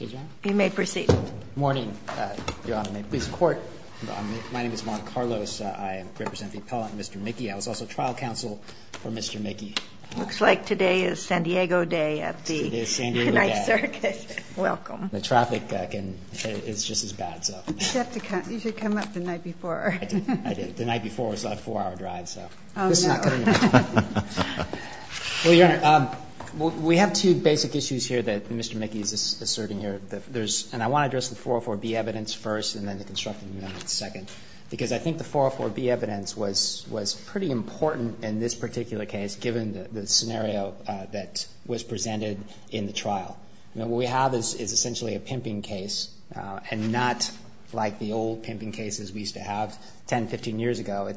You may proceed. Morning, Your Honor. May it please the Court. My name is Juan Carlos. I represent the appellant Mr. Mickey. I was also trial counsel for Mr. Mickey. Looks like today is San Diego day at the Knight Circus. Welcome. The traffic is just as bad. You should come up the night before. I did. The night before was a four-hour drive. Oh, no. Well, Your Honor, we have two basic issues here that Mr. Mickey is asserting here. And I want to address the 404B evidence first and then the Constructing Amendment second. Because I think the 404B evidence was pretty important in this particular case given the scenario that was presented in the trial. What we have is essentially a pimping case and not like the old pimping cases we used to have 10, 15 years ago.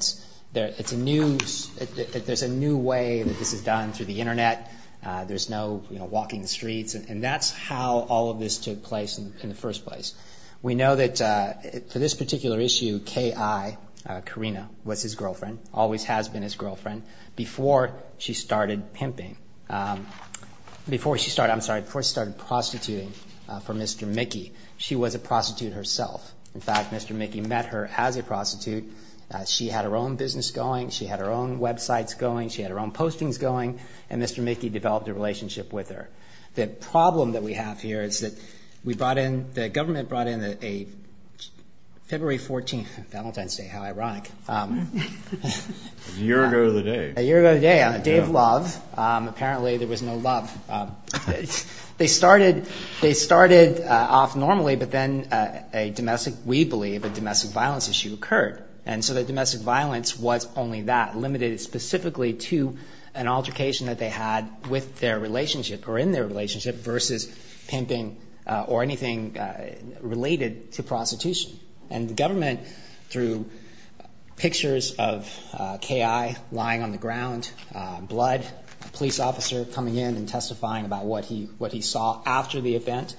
There's a new way that this is done through the Internet. There's no walking the streets. And that's how all of this took place in the first place. We know that for this particular issue, K.I., Karina, was his girlfriend, always has been his girlfriend, before she started pimping. Before she started, I'm sorry, before she started prostituting for Mr. Mickey, she was a prostitute herself. In fact, Mr. Mickey met her as a prostitute. She had her own business going. She had her own websites going. She had her own postings going. And Mr. Mickey developed a relationship with her. The problem that we have here is that we brought in, the government brought in a February 14th, Valentine's Day, how ironic. A year ago today. A year ago today on a day of love. Apparently there was no love. They started off normally, but then a domestic, we believe, a domestic violence issue occurred. And so the domestic violence was only that, limited specifically to an altercation that they had with their relationship or in their relationship versus pimping or anything related to prostitution. And the government, through pictures of K.I. lying on the ground, blood, a police officer coming in and testifying about what he saw after the event,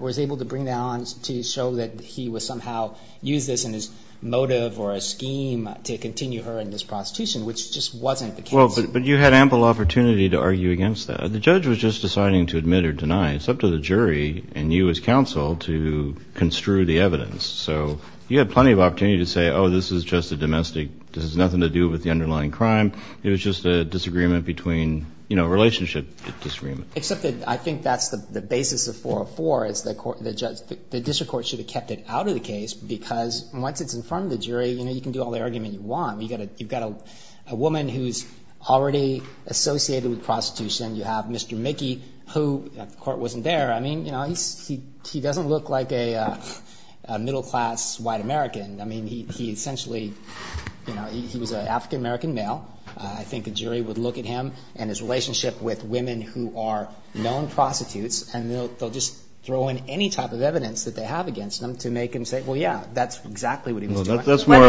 was able to bring that on to show that he would somehow use this in his motive or a scheme to continue her in this prostitution, which just wasn't the case. Well, but you had ample opportunity to argue against that. The judge was just deciding to admit or deny. It's up to the jury and you as counsel to construe the evidence. So you had plenty of opportunity to say, oh, this is just a domestic, this has nothing to do with the underlying crime. It was just a disagreement between, you know, relationship disagreement. Except that I think that's the basis of 404 is that the district court should have kept it out of the case because once it's in front of the jury, you know, you can do all the argument you want. You've got a woman who's already associated with prostitution. You have Mr. Mickey, who the court wasn't there. I mean, you know, he doesn't look like a middle class white American. I mean, he essentially, you know, he was an African-American male. I think a jury would look at him and his relationship with women who are known prostitutes and they'll just throw in any type of evidence that they have against him to make him say, well, yeah, that's exactly what he was doing. That's more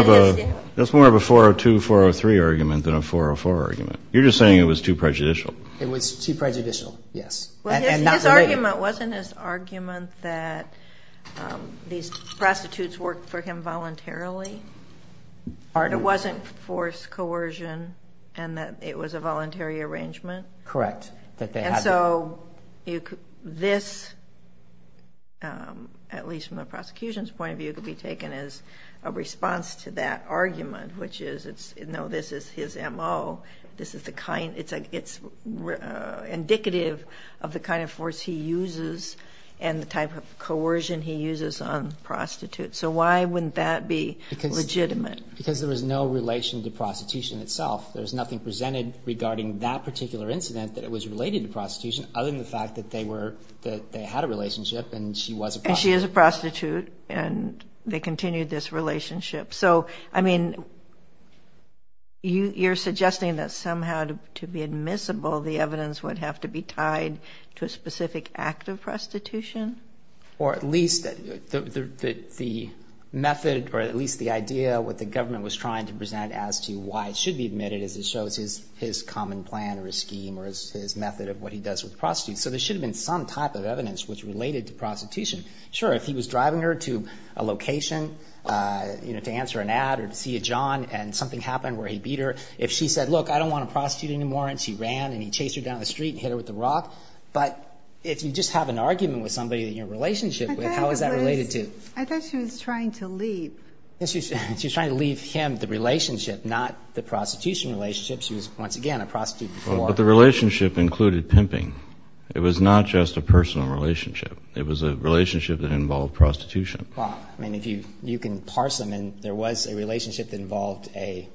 of a 402, 403 argument than a 404 argument. You're just saying it was too prejudicial. It was too prejudicial, yes. His argument wasn't his argument that these prostitutes worked for him voluntarily. Or it wasn't forced coercion and that it was a voluntary arrangement. Correct. And so this, at least from the prosecution's point of view, could be taken as a response to that argument, which is, you know, this is his M.O. This is the kind it's indicative of the kind of force he uses and the type of coercion he uses on prostitutes. So why wouldn't that be legitimate? Because there was no relation to prostitution itself. There was nothing presented regarding that particular incident that it was related to prostitution other than the fact that they had a relationship and she was a prostitute. And she is a prostitute and they continued this relationship. So, I mean, you're suggesting that somehow to be admissible the evidence would have to be tied to a specific act of prostitution? Or at least the method or at least the idea what the government was trying to present as to why it should be admitted as it shows his common plan or his scheme or his method of what he does with prostitutes. So there should have been some type of evidence which related to prostitution. Sure, if he was driving her to a location, you know, to answer an ad or to see a john and something happened where he beat her. If she said, look, I don't want to prostitute anymore and she ran and he chased her down the street and hit her with a rock. But if you just have an argument with somebody that you're in a relationship with, how is that related to? I thought she was trying to leave. She was trying to leave him the relationship, not the prostitution relationship. She was, once again, a prostitute before. But the relationship included pimping. It was not just a personal relationship. It was a relationship that involved prostitution. Well, I mean, if you can parse them in, there was a relationship that involved a,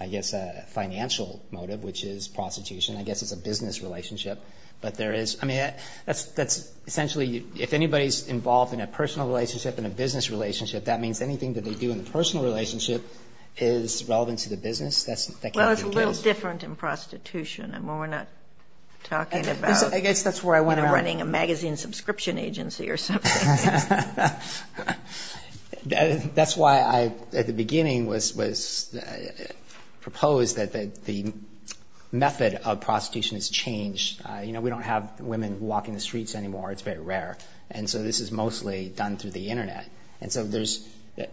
I guess, a financial motive, which is prostitution. I guess it's a business relationship. But there is, I mean, that's essentially, if anybody's involved in a personal relationship and a business relationship, that means anything that they do in the personal relationship is relevant to the business. Well, it's a little different in prostitution. I mean, we're not talking about running a magazine subscription agency or something. That's why I, at the beginning, was proposed that the method of prostitution has changed. You know, we don't have women walking the streets anymore. It's very rare. And so this is mostly done through the Internet. And so there's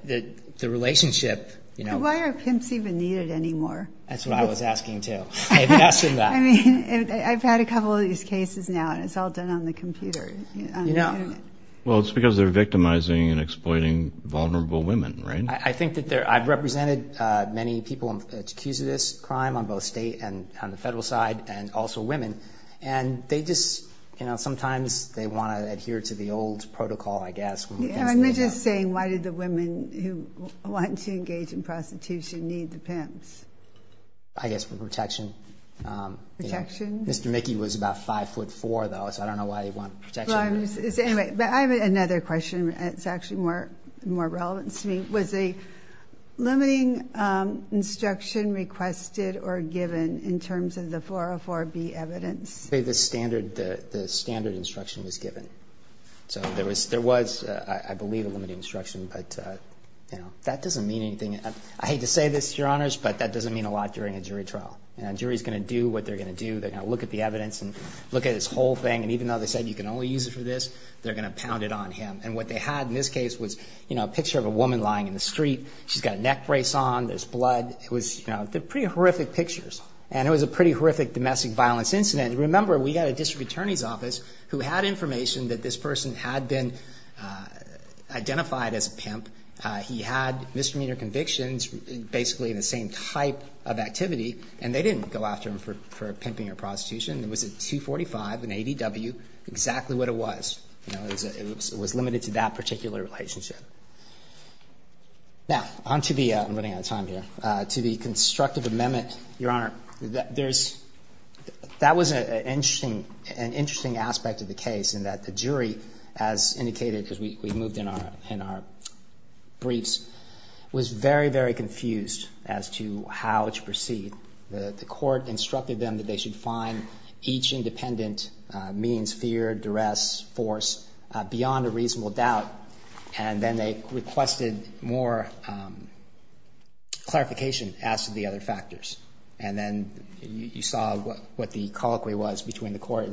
the relationship. Why are pimps even needed anymore? That's what I was asking, too. I mean, I've had a couple of these cases now, and it's all done on the computer. Well, it's because they're victimizing and exploiting vulnerable women, right? I think that I've represented many people accused of this crime on both state and on the federal side, and also women. And they just, you know, sometimes they want to adhere to the old protocol, I guess. I'm just saying, why did the women who wanted to engage in prostitution need the pimps? I guess for protection. Protection? Mr. Mickey was about 5'4", though, so I don't know why he wanted protection. But I have another question. It's actually more relevant to me. Was a limiting instruction requested or given in terms of the 404B evidence? The standard instruction was given. So there was, I believe, a limiting instruction, but that doesn't mean anything. I hate to say this, Your Honors, but that doesn't mean a lot during a jury trial. A jury is going to do what they're going to do. They're going to look at the evidence and look at this whole thing. And even though they said you can only use it for this, they're going to pound it on him. And what they had in this case was a picture of a woman lying in the street. She's got a neck brace on. There's blood. It was pretty horrific pictures. And it was a pretty horrific domestic violence incident. Remember, we had a district attorney's office who had information that this person had been identified as a pimp. He had misdemeanor convictions, basically the same type of activity. And they didn't go after him for pimping or prostitution. It was a 245, an ADW, exactly what it was. It was limited to that particular relationship. Now, on to the ‑‑ I'm running out of time here. To the constructive amendment, Your Honor, there's ‑‑ that was an interesting aspect of the case in that the jury, as indicated, because we moved in our briefs, was very, very confused as to how to proceed. The court instructed them that they should find each independent means, fear, duress, force, beyond a reasonable doubt. And then they requested more clarification as to the other factors. And then you saw what the colloquy was between the court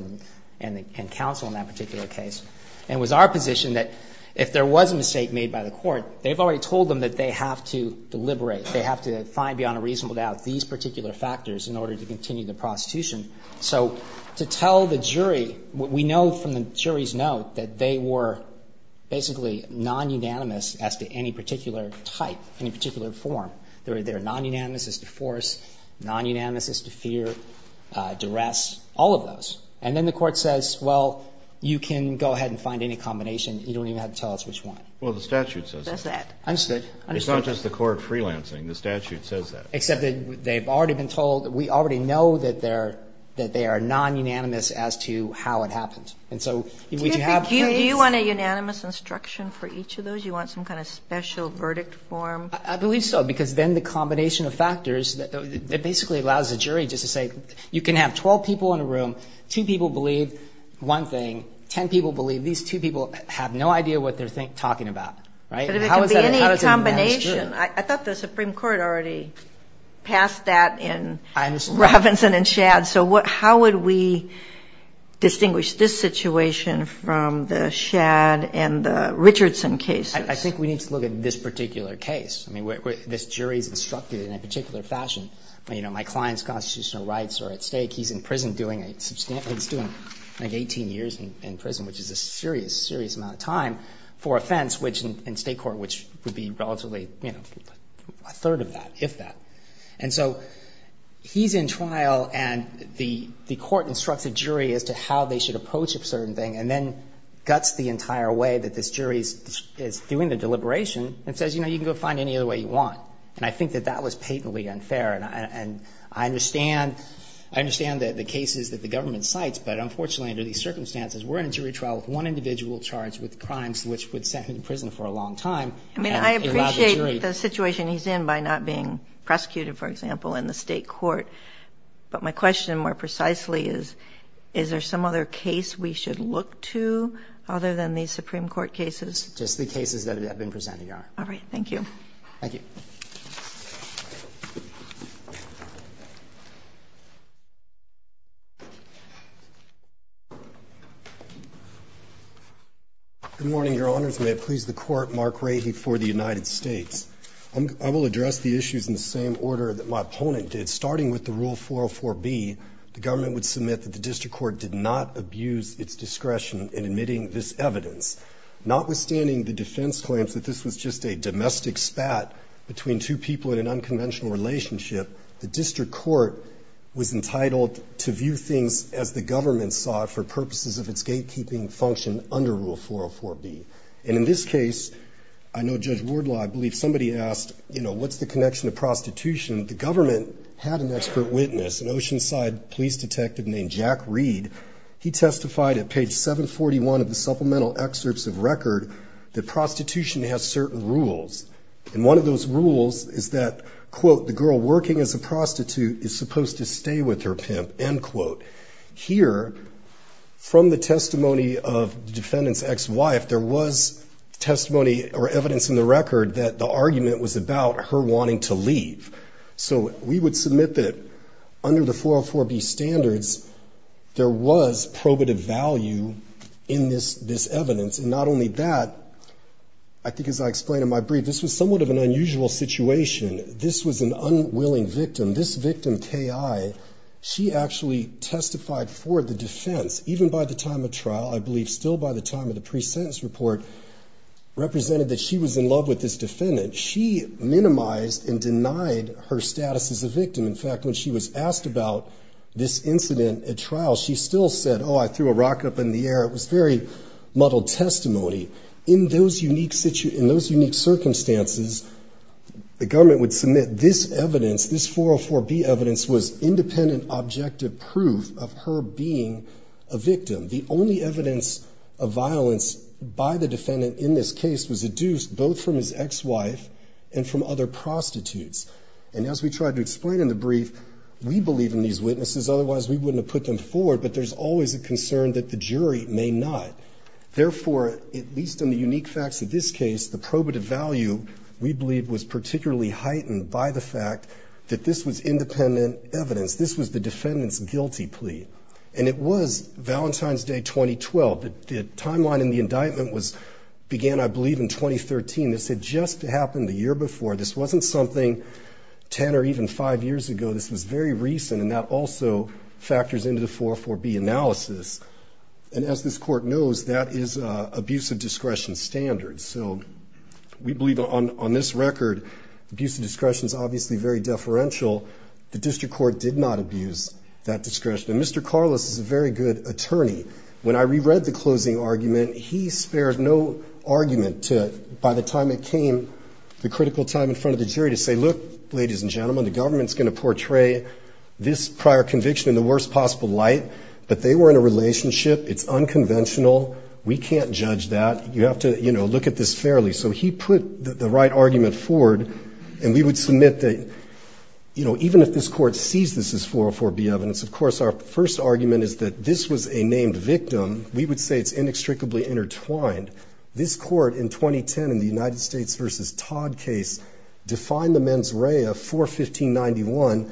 and counsel in that particular case. And it was our position that if there was a mistake made by the court, they've already told them that they have to deliberate, they have to find beyond a reasonable doubt these particular factors in order to continue the prostitution. So to tell the jury, we know from the jury's note that they were basically non‑unanimous as to any particular type, any particular form. They were non‑unanimous as to force, non‑unanimous as to fear, duress, all of those. And then the court says, well, you can go ahead and find any combination. You don't even have to tell us which one. Kennedy. Well, the statute says that. Sotomayor. I understand. Kennedy. It's not just the court freelancing. The statute says that. Sotomayor. Except that they've already been told ‑‑ we already know that they are non‑unanimous as to how it happened. And so would you have ‑‑ Kagan. Do you want a unanimous instruction for each of those? You want some kind of special verdict form? Sotomayor. I believe so, because then the combination of factors that basically allows the jury just to say, you can have 12 people in a room, two people believe one thing, 10 people believe these two people have no idea what they're talking about. How is that a unanimous jury? But if it could be any combination, I thought the Supreme Court already passed that in Robinson and Shadd. So how would we distinguish this situation from the Shadd and the Richardson cases? I think we need to look at this particular case. I mean, this jury's instructed in a particular fashion. You know, my client's constitutional rights are at stake. He's in prison doing a ‑‑ he's doing like 18 years in prison, which is a serious, serious amount of time, for offense, which in state court, which would be relatively, you know, a third of that, if that. And so he's in trial, and the court instructs a jury as to how they should approach a certain thing, and then guts the entire way that this jury is doing the deliberation and says, you know, you can go find any other way you want. And I think that that was patently unfair. And I understand ‑‑ I understand the cases that the government cites, but unfortunately under these circumstances, we're in a jury trial with one individual charged with crimes which would send him to prison for a long time. And it allowed the jury ‑‑ I mean, I appreciate the situation he's in by not being prosecuted, for example, in the state court. But my question more precisely is, is there some other case we should look to other than these Supreme Court cases? Just the cases that have been presented, Your Honor. Thank you. Thank you. Good morning, Your Honors. May it please the Court, Mark Rahey for the United States. I will address the issues in the same order that my opponent did. Starting with the Rule 404B, the government would submit that the district court did not abuse its discretion in admitting this evidence, notwithstanding the defense claims that this was just a domestic spat between two people in an unconventional relationship. The district court was entitled to view things as the government saw it for purposes of its gatekeeping function under Rule 404B. And in this case, I know Judge Wardlaw, I believe somebody asked, you know, what's the connection to prostitution? The government had an expert witness, an Oceanside police detective named Jack Reed. He testified at page 741 of the supplemental excerpts of record that prostitution has certain rules. And one of those rules is that, quote, the girl working as a prostitute is supposed to stay with her pimp, end quote. Here, from the testimony of the defendant's ex-wife, there was testimony or evidence in the record that the argument was about her wanting to leave. So we would submit that under the 404B standards, there was probative value in this evidence. And not only that, I think as I explained in my brief, this was somewhat of an unusual situation. This was an unwilling victim. This victim, Kay I, she actually testified for the defense, even by the time of trial, I believe still by the time of the pre-sentence report, represented that she was in love with this defendant. She minimized and denied her status as a victim. In fact, when she was asked about this incident at trial, she still said, oh, I threw a rocket up in the air. It was very muddled testimony. In those unique circumstances, the government would submit this evidence, this 404B evidence was independent, objective proof of her being a victim. The only evidence of violence by the defendant in this case was a deuce, both from his ex-wife and from other prostitutes. And as we tried to explain in the brief, we believe in these witnesses. Otherwise, we wouldn't have put them forward. But there's always a concern that the jury may not. Therefore, at least in the unique facts of this case, the probative value, we believe, was particularly heightened by the fact that this was independent evidence. This was the defendant's guilty plea. And it was Valentine's Day 2012. The timeline in the indictment began, I believe, in 2013. This had just happened the year before. This wasn't something 10 or even five years ago. This was very recent. And that also factors into the 404B analysis. And as this court knows, that is abuse of discretion standards. So we believe on this record, abuse of discretion is obviously very deferential. The district court did not abuse that discretion. And Mr. Carlos is a very good attorney. When I reread the closing argument, he spared no argument to, by the time it came, the critical time in front of the jury to say, look, ladies and gentlemen, the government is going to portray this prior conviction in the worst possible light. But they were in a relationship. It's unconventional. We can't judge that. You have to, you know, look at this fairly. So he put the right argument forward. And we would submit that, you know, even if this court sees this as 404B evidence, of course, our first argument is that this was a named victim. We would say it's inextricably intertwined. This court, in 2010, in the United States versus Todd case, defined the mens rea for 1591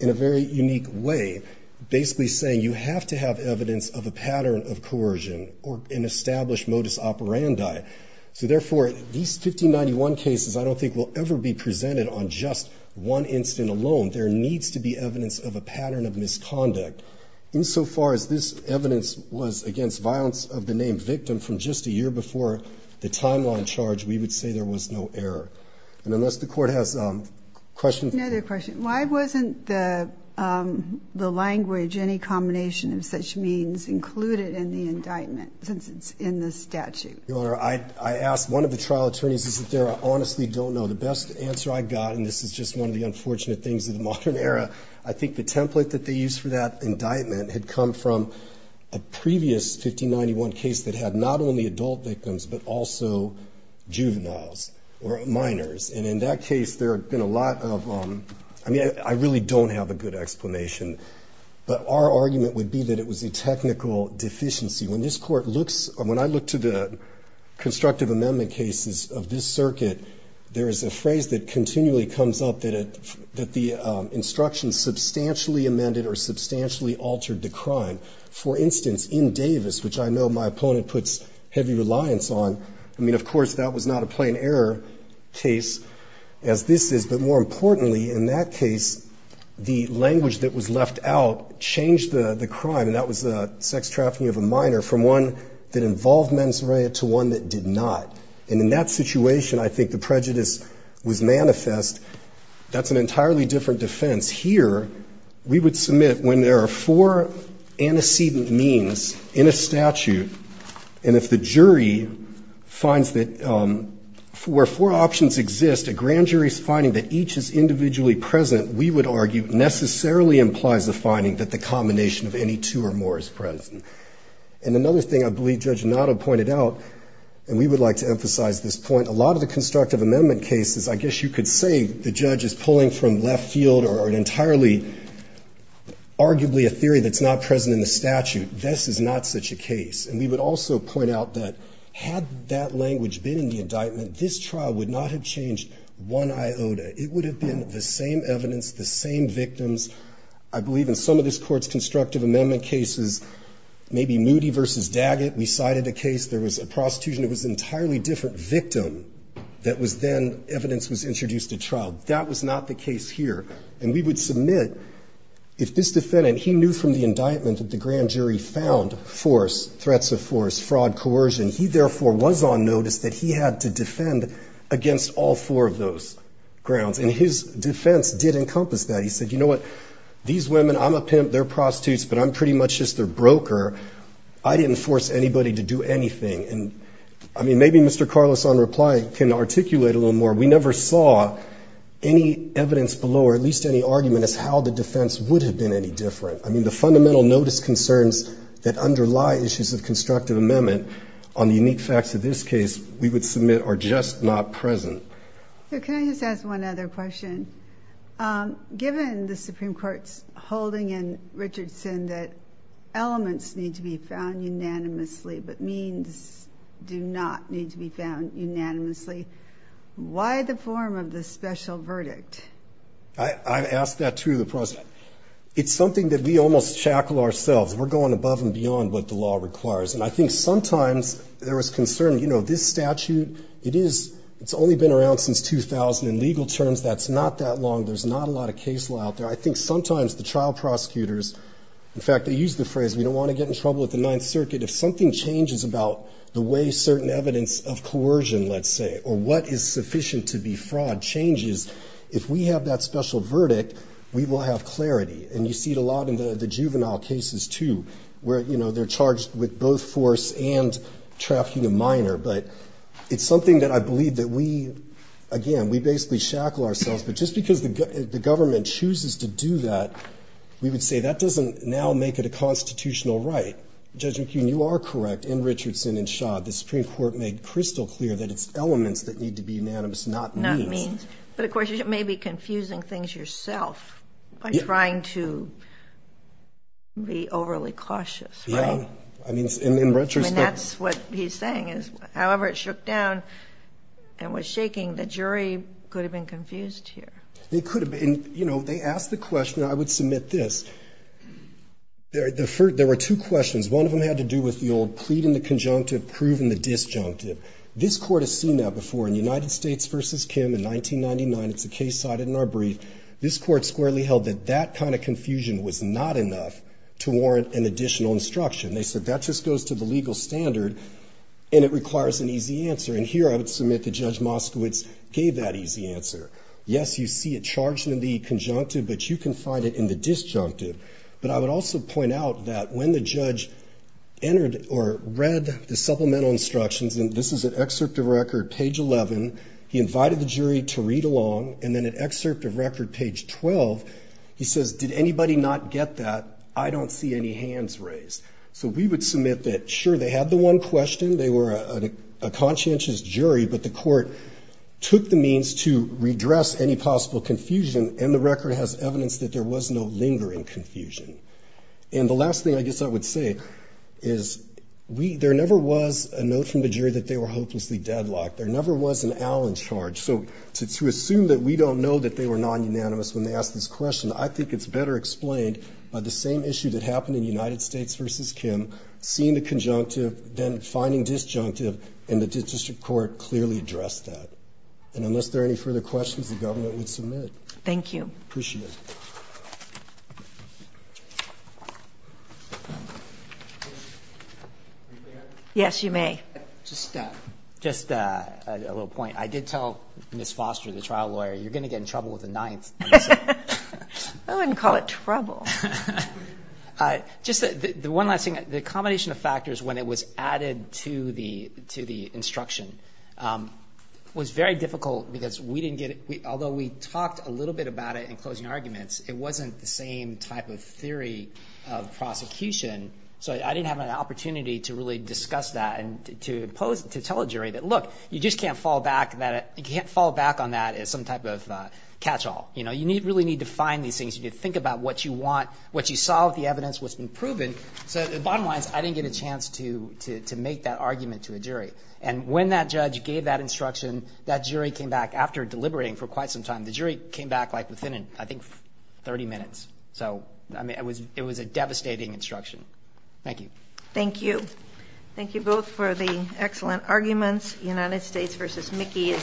in a very unique way, basically saying you have to have evidence of a pattern of coercion or an established modus operandi. So, therefore, these 1591 cases I don't think will ever be presented on just one incident alone. There needs to be evidence of a pattern of misconduct. Insofar as this evidence was against violence of the name victim from just a year before the timeline charge, we would say there was no error. And unless the court has questions. Another question. Why wasn't the language, any combination of such means, included in the indictment since it's in the statute? Your Honor, I asked one of the trial attorneys. He said, I honestly don't know. The best answer I got, and this is just one of the unfortunate things of the modern era, I think the template that they used for that indictment had come from a previous 1591 case that had not only adult victims, but also juveniles or minors. And in that case, there had been a lot of, I mean, I really don't have a good explanation. But our argument would be that it was a technical deficiency. When this court looks, when I look to the constructive amendment cases of this circuit, there is a phrase that continually comes up that the instruction substantially amended or substantially altered the crime. For instance, in Davis, which I know my opponent puts heavy reliance on, I mean, of course, that was not a plain error case as this is. But more importantly, in that case, the language that was left out changed the crime, and that was the sex trafficking of a minor from one that involved mens rea to one that did not. And in that situation, I think the prejudice was manifest. That's an entirely different defense. Here, we would submit when there are four antecedent means in a statute, and if the jury finds that where four options exist, a grand jury's finding that each is individually present, we would argue necessarily implies a finding that the combination of any two or more is present. And another thing I believe Judge Notto pointed out, and we would like to emphasize this point, a lot of the constructive amendment cases, I guess you could say the entirely, arguably a theory that's not present in the statute. This is not such a case. And we would also point out that had that language been in the indictment, this trial would not have changed one iota. It would have been the same evidence, the same victims. I believe in some of this Court's constructive amendment cases, maybe Moody v. Daggett, we cited a case, there was a prostitution, it was an entirely different victim that was then evidence was introduced at trial. That was not the case here. And we would submit if this defendant, he knew from the indictment that the grand jury found force, threats of force, fraud, coercion, he therefore was on notice that he had to defend against all four of those grounds. And his defense did encompass that. He said, you know what, these women, I'm a pimp, they're prostitutes, but I'm pretty much just their broker. I didn't force anybody to do anything. And, I mean, maybe Mr. Carlos on reply can articulate a little more. We never saw any evidence below or at least any argument as how the defense would have been any different. I mean, the fundamental notice concerns that underlie issues of constructive amendment on the unique facts of this case we would submit are just not present. So can I just ask one other question? Given the Supreme Court's holding in Richardson that elements need to be found unanimously, why the form of the special verdict? I've asked that to the President. It's something that we almost chackle ourselves. We're going above and beyond what the law requires. And I think sometimes there is concern, you know, this statute, it is, it's only been around since 2000 in legal terms. That's not that long. There's not a lot of case law out there. I think sometimes the trial prosecutors, in fact, they use the phrase, we don't want to get in trouble with the Ninth Circuit. If something changes about the way certain evidence of coercion, let's say, or what is sufficient to be fraud changes, if we have that special verdict, we will have clarity. And you see it a lot in the juvenile cases, too, where, you know, they're charged with both force and trafficking a minor. But it's something that I believe that we, again, we basically shackle ourselves. But just because the government chooses to do that, we would say that doesn't now make it a constitutional right. Judge McKeon, you are correct. In Richardson and Shaw, the Supreme Court made crystal clear that it's elements that need to be unanimous, not means. Not means. But, of course, you may be confusing things yourself by trying to be overly cautious, right? Yeah. I mean, in retrospect. I mean, that's what he's saying is, however it shook down and was shaking, the jury could have been confused here. It could have been. You know, they asked the question. I would submit this. There were two questions. One of them had to do with the old plead in the conjunctive, prove in the disjunctive. This Court has seen that before. In United States v. Kim in 1999, it's a case cited in our brief, this Court squarely held that that kind of confusion was not enough to warrant an additional instruction. They said that just goes to the legal standard, and it requires an easy answer. And here I would submit that Judge Moskowitz gave that easy answer. Yes, you see it charged in the conjunctive, but you can find it in the disjunctive. But I would also point out that when the judge entered or read the supplemental instructions, and this is an excerpt of record, page 11, he invited the jury to read along, and then an excerpt of record, page 12, he says, did anybody not get that? I don't see any hands raised. So we would submit that, sure, they had the one question. They were a conscientious jury, but the Court took the means to redress any possible confusion, and the record has evidence that there was no lingering confusion. And the last thing I guess I would say is there never was a note from the jury that they were hopelessly deadlocked. There never was an Allen charge. So to assume that we don't know that they were non-unanimous when they asked this question, I think it's better explained by the same issue that happened in United States v. Kim, seeing the conjunctive, then finding disjunctive, and the district court clearly addressed that. And unless there are any further questions, the government would submit. Thank you. Appreciate it. Yes, you may. Just a little point. I did tell Ms. Foster, the trial lawyer, you're going to get in trouble with the Ninth. I wouldn't call it trouble. Just the one last thing. The combination of factors when it was added to the instruction was very difficult because although we talked a little bit about it in closing arguments, it wasn't the same type of theory of prosecution. So I didn't have an opportunity to really discuss that and to tell a jury that, look, you just can't fall back on that as some type of catch-all. You really need to find these things. You need to think about what you want, what you saw of the evidence, what's been proven. So bottom line is I didn't get a chance to make that argument to a jury. And when that judge gave that instruction, that jury came back after deliberating for quite some time. The jury came back, like, within, I think, 30 minutes. So, I mean, it was a devastating instruction. Thank you. Thank you. Thank you both for the excellent arguments. United States v. Mickey is submitted.